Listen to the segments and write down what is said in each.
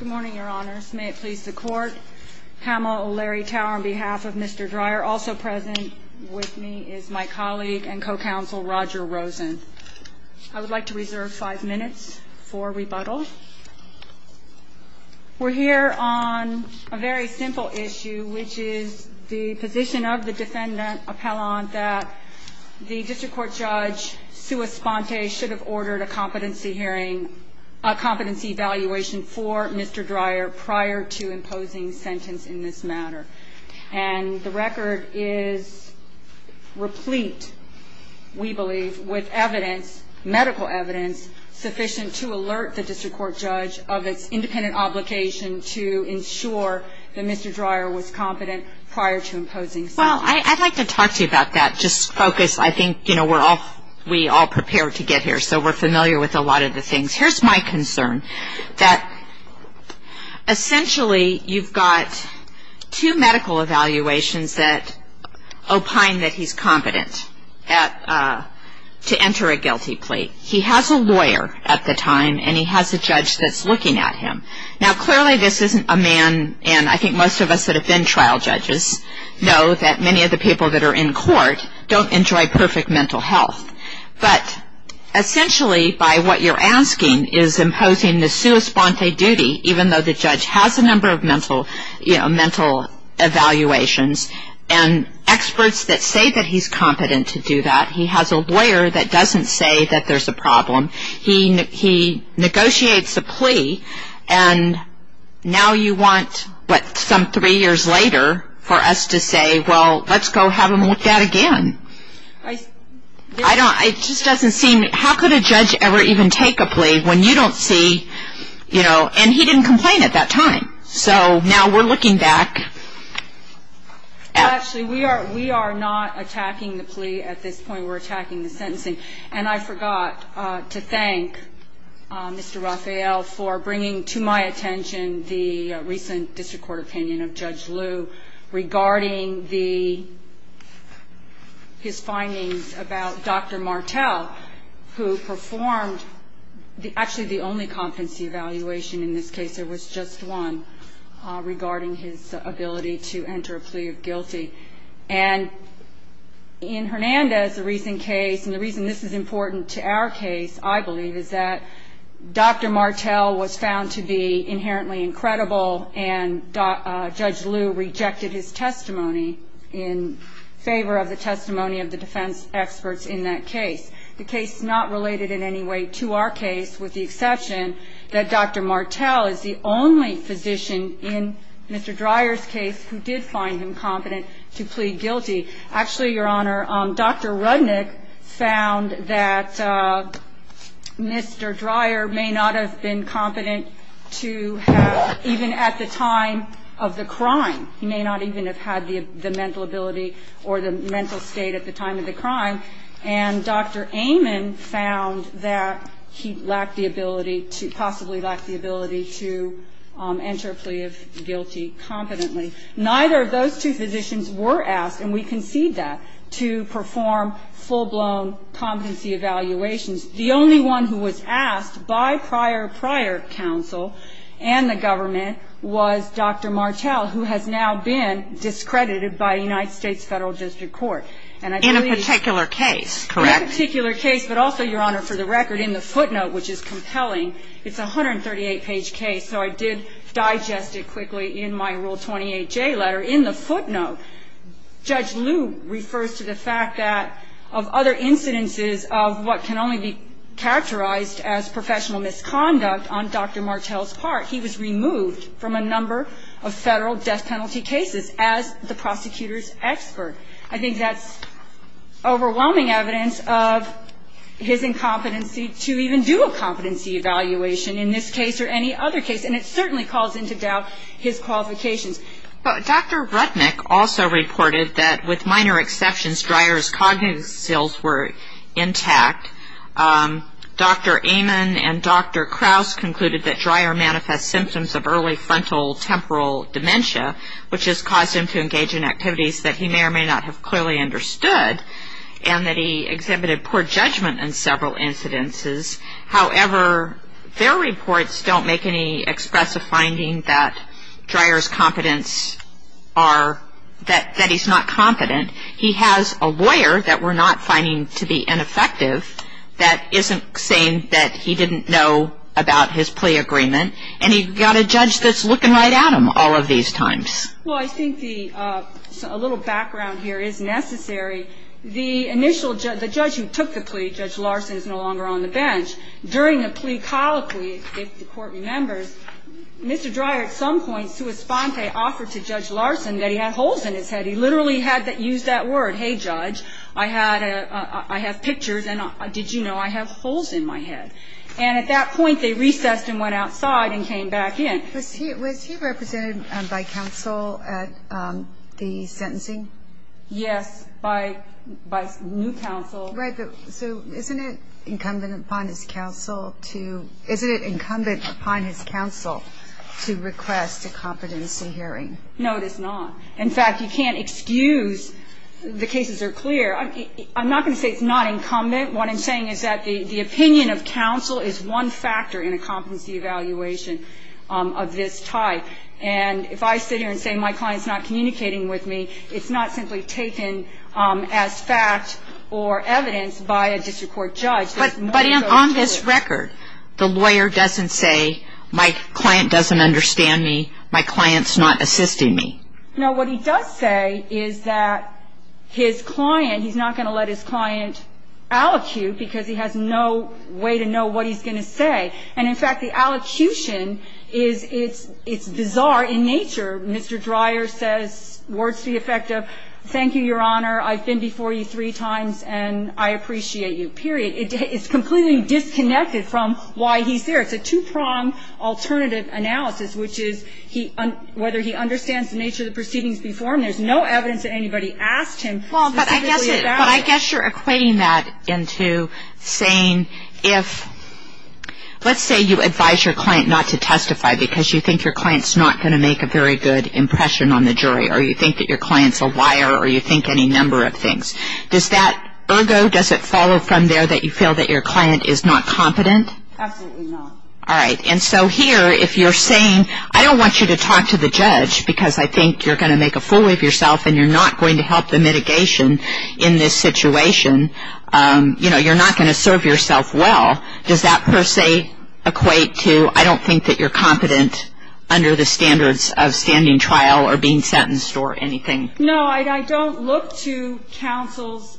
Good morning, your honors. May it please the court. Pamela O'Leary Tower on behalf of Mr. Dreyer. Also present with me is my colleague and co-counsel Roger Rosen. I would like to reserve five minutes for rebuttal. We're here on a very simple issue, which is the position of the defendant appellant that the district court judge sua sponte should have ordered a competency hearing, a competency evaluation for Mr. Dreyer prior to imposing sentence in this matter. And the record is replete, we believe, with evidence, medical evidence, sufficient to alert the district court judge of its independent obligation to ensure that Mr. Dreyer was competent prior to imposing sentence. Well, I'd like to talk to you about that, just focus. I think we're all prepared to get here, so we're familiar with a lot of the things. Here's my concern, that essentially you've got two medical evaluations that opine that he's competent to enter a guilty plea. He has a lawyer at the time, and he has a judge that's looking at him. Now, clearly this isn't a man, and I think most of us that have been trial judges know that many of the people that are in court don't enjoy perfect mental health. But essentially by what you're asking is imposing the sua sponte duty, even though the judge has a number of mental evaluations, and experts that say that he's competent to do that. He has a lawyer that doesn't say that there's a problem. He negotiates a plea, and now you want, what, some three years later for us to say, well, let's go have him looked at again. I don't, it just doesn't seem, how could a judge ever even take a plea when you don't see, you know, and he didn't complain at that time. So now we're looking back. Actually, we are not attacking the plea at this point. We're attacking the sentencing. And I forgot to thank Mr. Rafael for bringing to my attention the recent district court opinion of Judge Liu regarding the, his findings about Dr. Martel, who performed actually the only competency evaluation in this case. There was just one regarding his ability to enter a plea of guilty. And in Hernandez, the recent case, and the reason this is important to our case, I believe, is that Dr. Martel was found to be inherently incredible, and Judge Liu rejected his testimony in favor of the testimony of the defense experts in that case. The case is not related in any way to our case, with the exception that Dr. Martel is the only physician in Mr. Dreyer's case who did find him competent to plead guilty. Actually, Your Honor, Dr. Rudnick found that Mr. Dreyer may not have been competent to have, even at the time of the crime, he may not even have had the mental ability or the mental state at the time of the crime. And Dr. Amon found that he lacked the ability to, possibly lacked the ability to enter a plea of guilty competently. Neither of those two physicians were asked, and we concede that, to perform full-blown competency evaluations. The only one who was asked by prior, prior counsel and the government was Dr. Martel, who has now been discredited by a United States federal district court. In a particular case, correct? In a particular case, but also, Your Honor, for the record, in the footnote, which is compelling, it's a 138-page case, so I did digest it quickly in my Rule 28J letter. In the footnote, Judge Liu refers to the fact that, of other incidences of what can only be characterized as professional misconduct on Dr. Martel's part, he was removed from a number of federal death penalty cases as the prosecutor's expert. I think that's overwhelming evidence of his incompetency to even do a competency evaluation in this case or any other case, and it certainly calls into doubt his qualifications. Dr. Rudnick also reported that, with minor exceptions, Dreyer's cognitive skills were intact. Dr. Amon and Dr. Krauss concluded that Dreyer manifest symptoms of early frontal temporal dementia, which has caused him to engage in activities that he may or may not have clearly understood, and that he exhibited poor judgment in several incidences. However, their reports don't make any expressive finding that Dreyer's competence are, that he's not competent. He has a lawyer that we're not finding to be ineffective that isn't saying that he didn't know about his plea agreement, and he's got a judge that's looking right at him all of these times. Well, I think the – a little background here is necessary. The initial – the judge who took the plea, Judge Larson, is no longer on the bench. During the plea colloquy, if the Court remembers, Mr. Dreyer, at some point, sua sponte offered to Judge Larson that he had holes in his head. He literally had that – used that word, hey, judge, I had a – I have pictures, and did you know I have holes in my head? And at that point, they recessed and went outside and came back in. Was he represented by counsel at the sentencing? Yes, by new counsel. Right, but so isn't it incumbent upon his counsel to – isn't it incumbent upon his counsel to request a competency hearing? No, it is not. In fact, you can't excuse – the cases are clear. I'm not going to say it's not incumbent. What I'm saying is that the opinion of counsel is one factor in a competency evaluation of this type. And if I sit here and say my client's not communicating with me, it's not simply taken as fact or evidence by a district court judge. But on this record, the lawyer doesn't say my client doesn't understand me, my client's not assisting me. No, what he does say is that his client – he's not going to let his client allocute, because he has no way to know what he's going to say. And in fact, the allocution is – it's bizarre in nature. Mr. Dreyer says words to the effect of, thank you, Your Honor, I've been before you three times, and I appreciate you, period. It's completely disconnected from why he's there. It's a two-pronged alternative analysis, which is he – whether he understands the nature of the proceedings before him. There's no evidence that anybody asked him specifically about it. But I guess you're equating that into saying if – let's say you advise your client not to testify because you think your client's not going to make a very good impression on the jury, or you think that your client's a liar, or you think any number of things. Does that – ergo, does it follow from there that you feel that your client is not competent? Absolutely not. All right. And so here, if you're saying I don't want you to talk to the judge because I think you're going to make a fool of yourself and you're not going to help the mitigation in this situation, you know, you're not going to serve yourself well, does that per se equate to I don't think that you're competent under the standards of standing trial or being sentenced or anything? No, I don't look to counsel's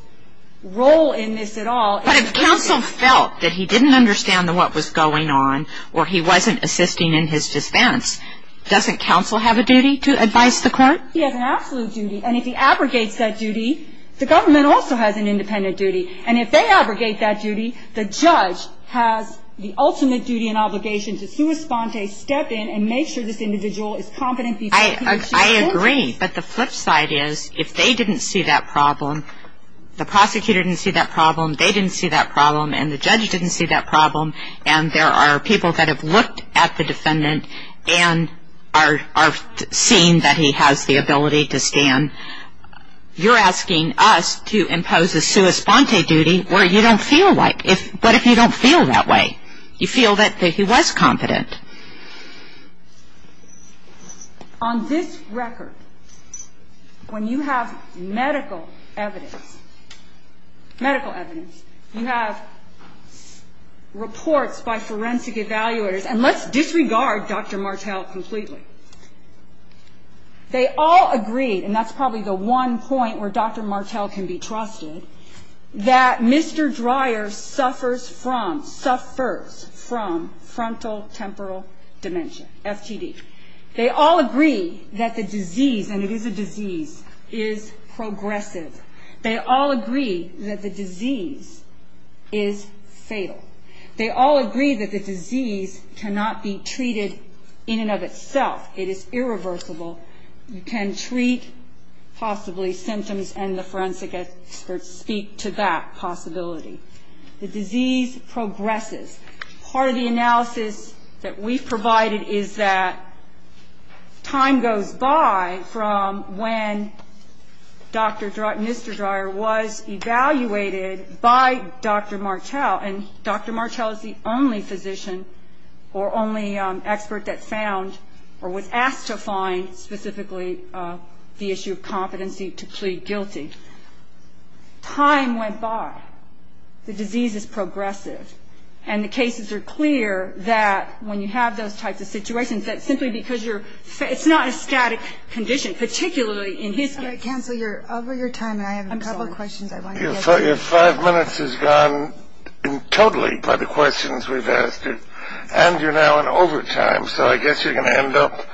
role in this at all. But if counsel felt that he didn't understand what was going on or he wasn't assisting in his defense, doesn't counsel have a duty to advise the court? He has an absolute duty. And if he abrogates that duty, the government also has an independent duty. And if they abrogate that duty, the judge has the ultimate duty and obligation to sua sponte, step in, and make sure this individual is competent. I agree, but the flip side is if they didn't see that problem, the prosecutor didn't see that problem, they didn't see that problem, and the judge didn't see that problem, and there are people that have looked at the defendant and are seeing that he has the ability to stand, you're asking us to impose a sua sponte duty where you don't feel like. What if you don't feel that way? You feel that he was competent. On this record, when you have medical evidence, medical evidence, you have reports by forensic evaluators, and let's disregard Dr. Martell completely. They all agreed, and that's probably the one point where Dr. Martell can be trusted, that Mr. Dreyer suffers from frontal temporal dementia, FTD. They all agree that the disease, and it is a disease, is progressive. They all agree that the disease is fatal. They all agree that the disease cannot be treated in and of itself. It is irreversible. You can treat possibly symptoms, and the forensic experts speak to that possibility. The disease progresses. Part of the analysis that we've provided is that time goes by from when Dr. Dreyer, Mr. Dreyer was evaluated by Dr. Martell, and Dr. Martell is the only physician or only expert that found or was asked to find specifically the issue of competency to plead guilty. Time went by. The disease is progressive, and the cases are clear that when you have those types of situations, that simply because you're, it's not a static condition, particularly in his case. Cancel your, over your time, and I have a couple of questions I want to get to. Your five minutes has gone totally by the questions we've asked you, and you're now in overtime, so I guess you're going to end up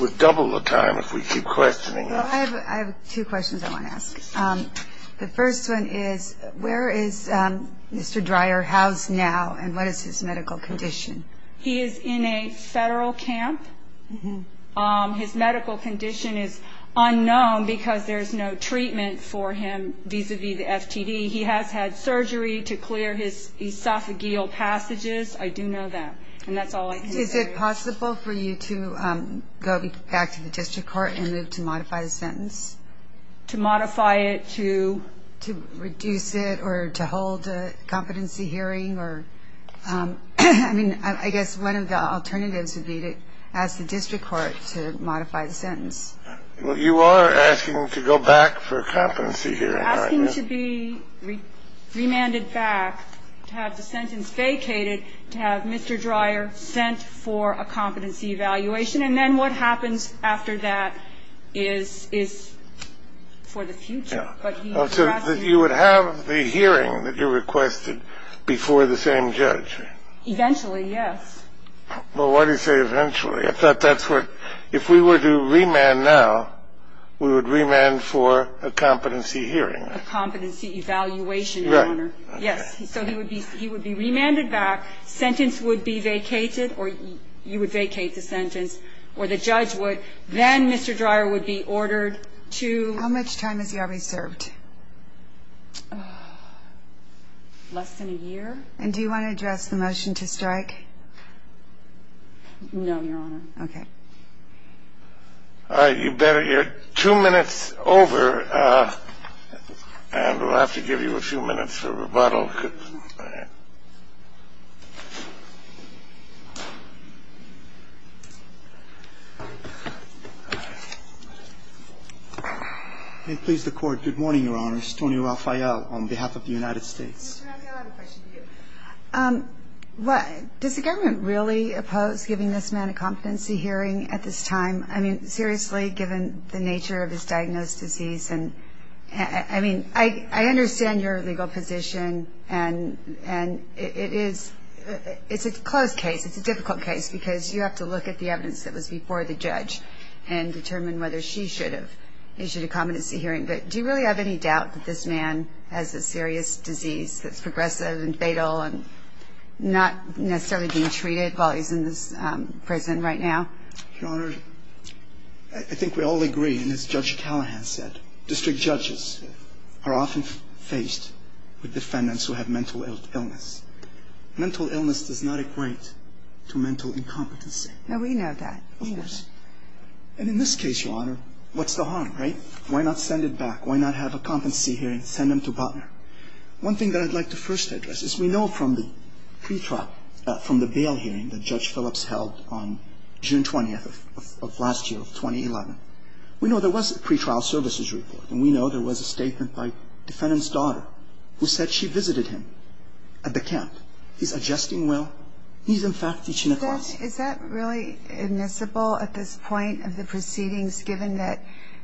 with double the time if we keep questioning you. Well, I have two questions I want to ask. The first one is where is Mr. Dreyer housed now, and what is his medical condition? He is in a federal camp. His medical condition is unknown because there's no treatment for him vis-à-vis the FTD. He has had surgery to clear his esophageal passages. I do know that, and that's all I can say. Is it possible for you to go back to the district court and move to modify the sentence? To modify it, to? To reduce it or to hold a competency hearing or, I mean, I guess one of the alternatives would be to ask the district court to modify the sentence. Well, you are asking to go back for a competency hearing, aren't you? I'm asking to be remanded back, to have the sentence vacated, to have Mr. Dreyer sent for a competency evaluation. And then what happens after that is for the future. So you would have the hearing that you requested before the same judge? Eventually, yes. Well, why do you say eventually? I thought that's where, if we were to remand now, we would remand for a competency hearing. A competency evaluation, Your Honor. Yes. So he would be remanded back, sentence would be vacated, or you would vacate the sentence, or the judge would. Then Mr. Dreyer would be ordered to. How much time has he already served? Less than a year. And do you want to address the motion to strike? No, Your Honor. Okay. All right, you better. You're two minutes over, and we'll have to give you a few minutes for rebuttal. May it please the Court. Good morning, Your Honors. Tony Rafael on behalf of the United States. Mr. Rafael, I have a question for you. Does the government really oppose giving this man a competency hearing at this time? I mean, seriously, given the nature of his diagnosed disease? I mean, I understand your legal position, and it is a close case. It's a difficult case because you have to look at the evidence that was before the judge and determine whether she should have issued a competency hearing. But do you really have any doubt that this man has a serious disease that's progressive and fatal and not necessarily being treated while he's in this prison right now? Your Honor, I think we all agree, and as Judge Callahan said, district judges are often faced with defendants who have mental illness. Mental illness does not equate to mental incompetency. No, we know that. Of course. And in this case, Your Honor, what's the harm, right? Why not send it back? Why not have a competency hearing, send him to Butler? One thing that I'd like to first address is we know from the pretrial, from the bail hearing that Judge Phillips held on June 20th of last year, 2011, we know there was a pretrial services report, and we know there was a statement by defendant's daughter who said she visited him at the camp. He's adjusting well. He's, in fact, teaching a class. Judge, is that really admissible at this point of the proceedings, given that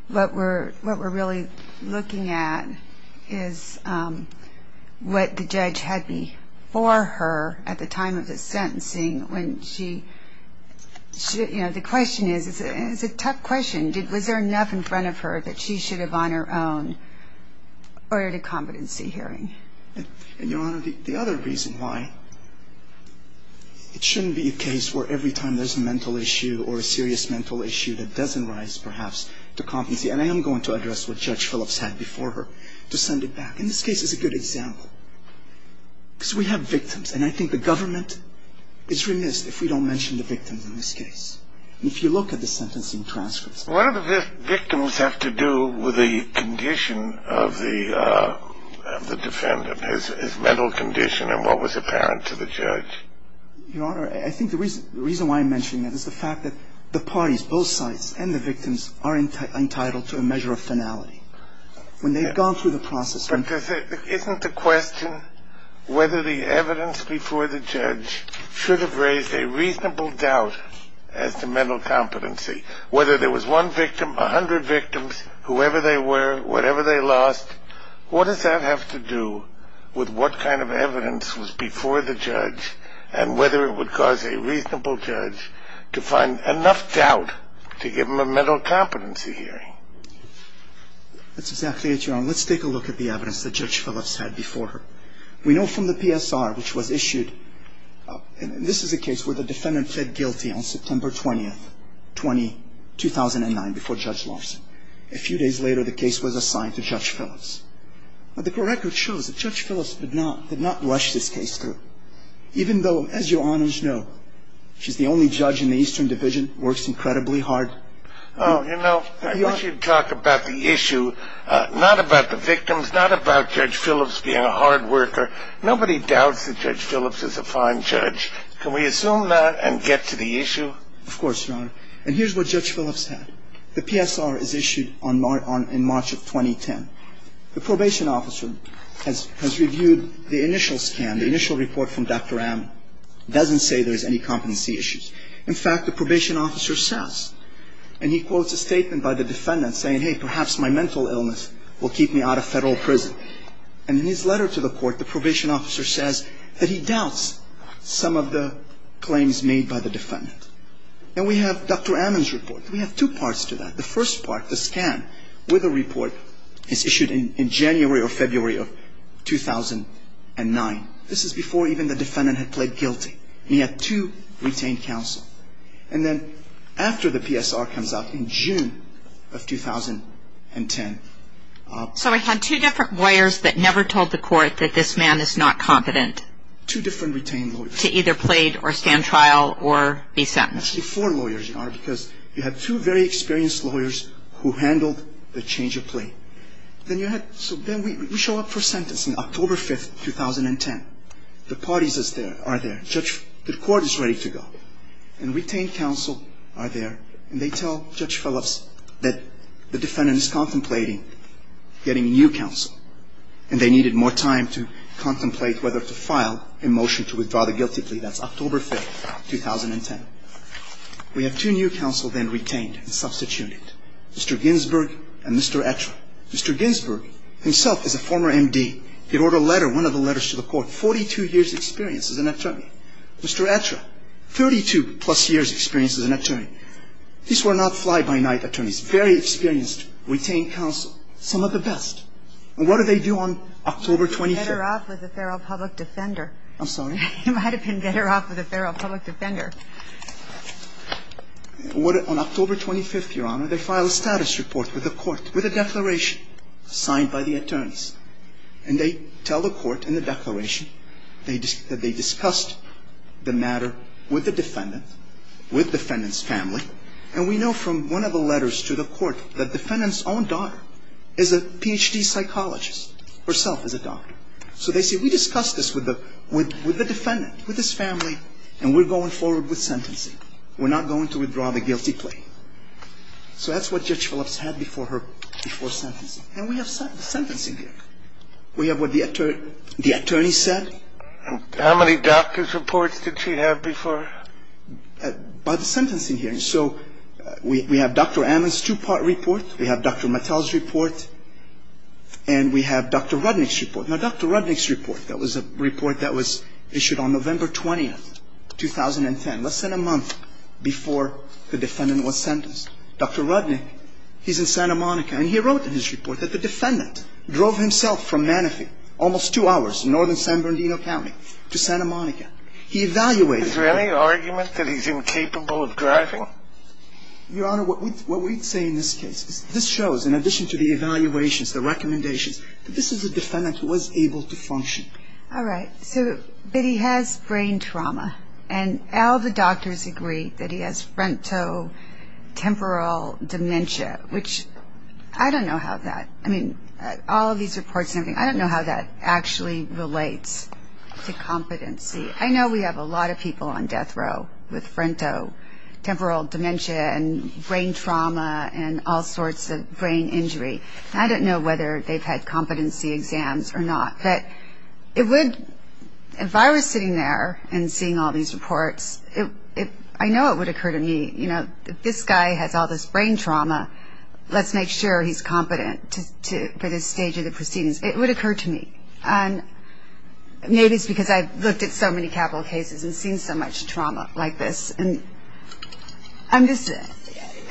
what we're really looking at is what the judge had before her at the time of the sentencing when she, you know, the question is, and it's a tough question, was there enough in front of her that she should have on her own ordered a competency hearing? And, Your Honor, the other reason why it shouldn't be a case where every time there's a mental issue or a serious mental issue that doesn't rise, perhaps, to competency, and I am going to address what Judge Phillips had before her, to send it back. And this case is a good example because we have victims, and I think the government is remiss if we don't mention the victims in this case. And if you look at the sentencing transcripts. One of the victims have to do with the condition of the defendant, his mental condition and what was apparent to the judge. Your Honor, I think the reason why I'm mentioning that is the fact that the parties, both sides and the victims, are entitled to a measure of finality. When they've gone through the process. But isn't the question whether the evidence before the judge should have raised a reasonable doubt as to mental competency? Whether there was one victim, a hundred victims, whoever they were, whatever they lost, what does that have to do with what kind of evidence was before the judge and whether it would cause a reasonable judge to find enough doubt to give them a mental competency hearing? That's exactly it, Your Honor. Let's take a look at the evidence that Judge Phillips had before her. We know from the PSR, which was issued, and this is a case where the defendant pled guilty on September 20th, 2009, before Judge Lawson. A few days later, the case was assigned to Judge Phillips. But the record shows that Judge Phillips did not rush this case through. Even though, as Your Honors know, she's the only judge in the Eastern Division, works incredibly hard. Oh, you know, I wish you'd talk about the issue, not about the victims, not about Judge Phillips being a hard worker. Nobody doubts that Judge Phillips is a fine judge. Can we assume that and get to the issue? Of course, Your Honor. And here's what Judge Phillips had. The PSR is issued in March of 2010. The probation officer has reviewed the initial scan, the initial report from Dr. Amner. It doesn't say there's any competency issues. In fact, the probation officer says, and he quotes a statement by the defendant saying, hey, perhaps my mental illness will keep me out of Federal prison. So in his letter to the court, the probation officer says that he doubts some of the claims made by the defendant. And we have Dr. Amner's report. We have two parts to that. The first part, the scan with the report, is issued in January or February of 2009. This is before even the defendant had pled guilty. And he had two retained counsel. And then after the PSR comes out in June of 2010. So he had two different lawyers that never told the court that this man is not competent. Two different retained lawyers. To either plead or stand trial or be sentenced. Actually, four lawyers, Your Honor, because you had two very experienced lawyers who handled the change of plea. So then we show up for sentencing October 5, 2010. The parties are there. The court is ready to go. And retained counsel are there. And they tell Judge Phillips that the defendant is contemplating getting new counsel. And they needed more time to contemplate whether to file a motion to withdraw the guilty plea. That's October 5, 2010. We have two new counsel then retained and substituted. Mr. Ginsberg and Mr. Etra. Mr. Ginsberg himself is a former M.D. He wrote a letter, one of the letters to the court, 42 years' experience as an attorney. Mr. Etra, 32-plus years' experience as an attorney. These were not fly-by-night attorneys. Very experienced, retained counsel. Some of the best. And what do they do on October 25th? He might have been better off with a feral public defender. I'm sorry? He might have been better off with a feral public defender. On October 25th, Your Honor, they file a status report with the court, with a declaration signed by the attorneys. And they tell the court in the declaration that they discussed the matter with the defendant, with the defendant's family. And we know from one of the letters to the court that the defendant's own daughter is a Ph.D. psychologist, herself is a doctor. So they say, we discussed this with the defendant, with his family, and we're going forward with sentencing. We're not going to withdraw the guilty plea. So that's what Judge Phillips had before her, before sentencing. And we have sentencing here. We have what the attorneys said. How many doctor's reports did she have before? By the sentencing hearing. So we have Dr. Ammon's two-part report. We have Dr. Mattel's report. And we have Dr. Rudnick's report. Now, Dr. Rudnick's report, that was a report that was issued on November 20th, 2010, less than a month before the defendant was sentenced. Dr. Rudnick, he's in Santa Monica. And he wrote in his report that the defendant drove himself from Manatee, almost two hours, northern San Bernardino County, to Santa Monica. He evaluated. Is there any argument that he's incapable of driving? Your Honor, what we'd say in this case, this shows, in addition to the evaluations, the recommendations, that this is a defendant who was able to function. All right. So, but he has brain trauma. And all the doctors agree that he has frontotemporal dementia, which I don't know how that, I mean, all of these reports, I don't know how that actually relates to competency. I know we have a lot of people on death row with frontotemporal dementia and brain trauma and all sorts of brain injury. I don't know whether they've had competency exams or not. But it would, if I were sitting there and seeing all these reports, I know it would occur to me, you know, if this guy has all this brain trauma, let's make sure he's competent for this stage of the proceedings. It would occur to me. And maybe it's because I've looked at so many capital cases and seen so much trauma like this. And I'm just,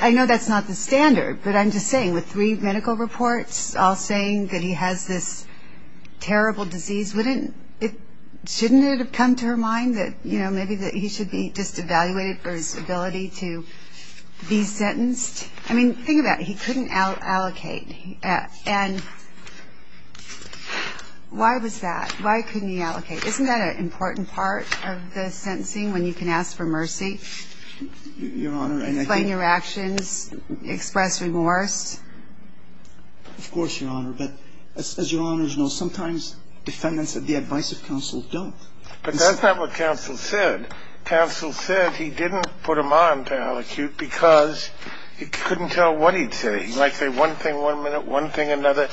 I know that's not the standard, but I'm just saying with three medical reports, all saying that he has this terrible disease, wouldn't it, shouldn't it have come to her mind that, you know, maybe that he should be just evaluated for his ability to be sentenced? I mean, think about it. He couldn't allocate. And why was that? Why couldn't he allocate? Isn't that an important part of the sentencing when you can ask for mercy? Your Honor, I think. Explain your actions. Express remorse. Of course, Your Honor. But as Your Honors know, sometimes defendants at the advice of counsel don't. But that's not what counsel said. Counsel said he didn't put him on paralecute because he couldn't tell what he'd say. He might say one thing one minute, one thing another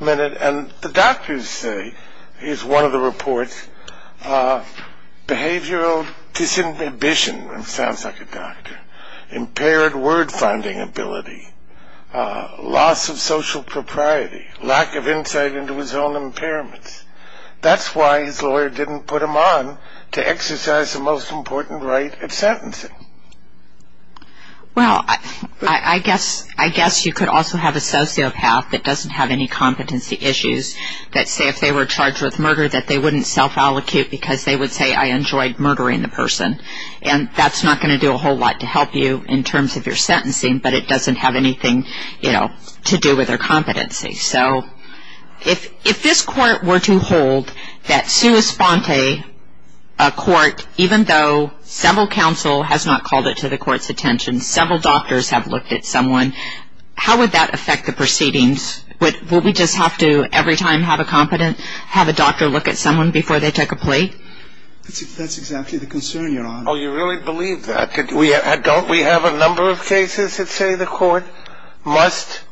minute. And the doctors say, here's one of the reports, behavioral disambition, impaired word-finding ability, loss of social propriety, lack of insight into his own impairments. That's why his lawyer didn't put him on to exercise the most important right of sentencing. Well, I guess you could also have a sociopath that doesn't have any competency issues that say if they were charged with murder that they wouldn't self-allocate because they would say, I enjoyed murdering the person. And that's not going to do a whole lot to help you in terms of your sentencing, but it doesn't have anything, you know, to do with their competency. So if this court were to hold that sua sponte, a court, even though several counsel has not called it to the court's attention, several doctors have looked at someone, how would that affect the proceedings? Would we just have to every time have a competent, have a doctor look at someone before they take a plea? That's exactly the concern, Your Honor. Oh, you really believe that? Don't we have a number of cases that say the court must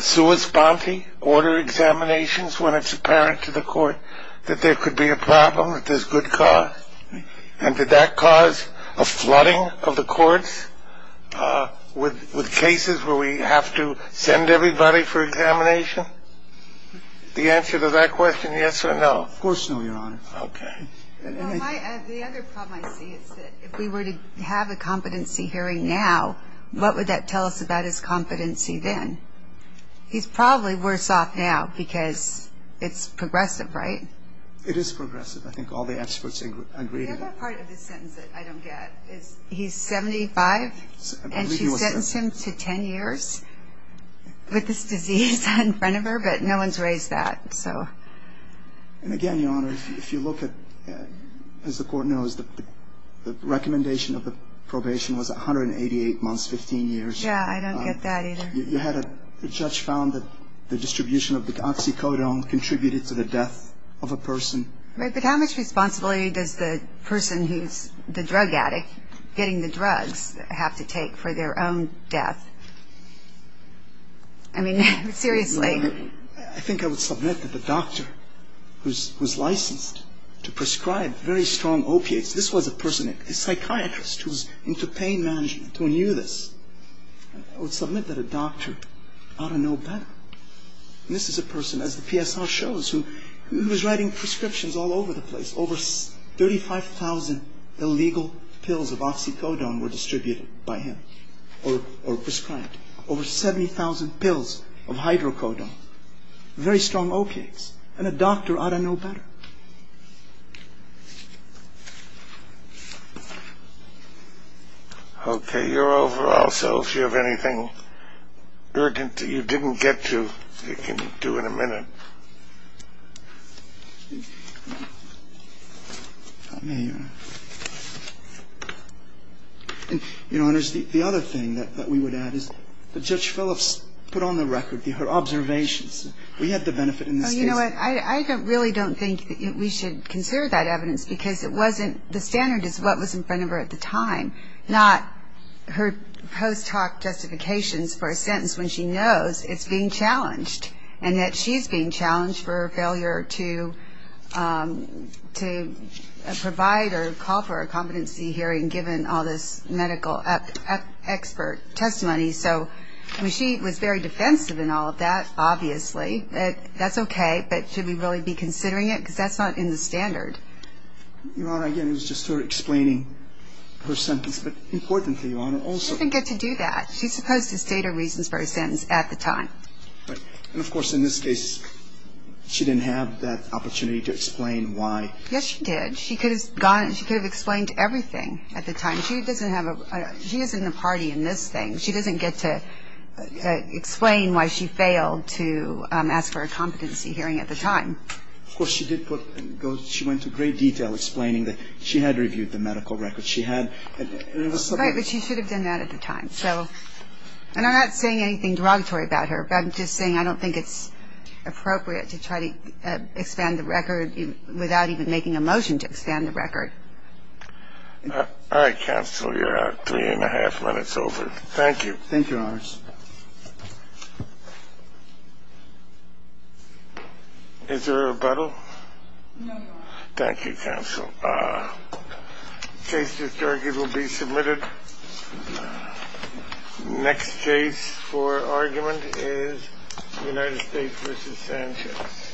sua sponte, order examinations when it's apparent to the court that there could be a problem, that there's good cause? And did that cause a flooding of the courts with cases where we have to send everybody for examination? The answer to that question, yes or no? Of course, no, Your Honor. Okay. The other problem I see is that if we were to have a competency hearing now, what would that tell us about his competency then? He's probably worse off now because it's progressive, right? It is progressive. I think all the experts agree to that. The other part of the sentence that I don't get is he's 75, and she sentenced him to 10 years with this disease in front of her, but no one's raised that, so. And again, Your Honor, if you look at, as the court knows, the recommendation of the probation was 188 months, 15 years. Yeah, I don't get that either. You had a judge found that the distribution of the oxycodone contributed to the death of a person. Right, but how much responsibility does the person who's the drug addict, getting the drugs, have to take for their own death? I mean, seriously. I think I would submit that the doctor who was licensed to prescribe very strong opiates, this was a person, a psychiatrist who was into pain management who knew this. I would submit that a doctor ought to know better. And this is a person, as the PSR shows, who was writing prescriptions all over the place. Over 35,000 illegal pills of oxycodone were distributed by him or prescribed. Over 70,000 pills of hydrocodone. Very strong opiates. And a doctor ought to know better. Okay, you're over also. If you have anything urgent that you didn't get to, you can do in a minute. And, Your Honors, the other thing that we would add is that Judge Phillips put on the record her observations. We had the benefit in this case. Oh, you know what? I really don't think we should consider that evidence because it wasn't, the standard is what was in front of her at the time, not her post-talk justifications for a sentence when she knows it's being challenged and that she's being challenged for a failure to provide or call for a competency hearing given all this medical expert testimony. So she was very defensive in all of that, obviously. That's okay. But should we really be considering it? Because that's not in the standard. Your Honor, again, it was just her explaining her sentence. But importantly, Your Honor, also. She didn't get to do that. She's supposed to state her reasons for her sentence at the time. And, of course, in this case, she didn't have that opportunity to explain why. Yes, she did. She could have gone and she could have explained everything at the time. She doesn't have a, she isn't a party in this thing. She doesn't get to explain why she failed to ask for a competency hearing at the time. Of course, she did put, she went to great detail explaining that she had reviewed the medical record. She had. Right, but she should have done that at the time. And I'm not saying anything derogatory about her, but I'm just saying I don't think it's appropriate to try to expand the record without even making a motion to expand the record. All right, counsel. You're at three and a half minutes over. Thank you. Thank you, Your Honor. No, Your Honor. Thank you, counsel. The case is adjourned. It will be submitted. Next case for argument is United States v. Sanchez.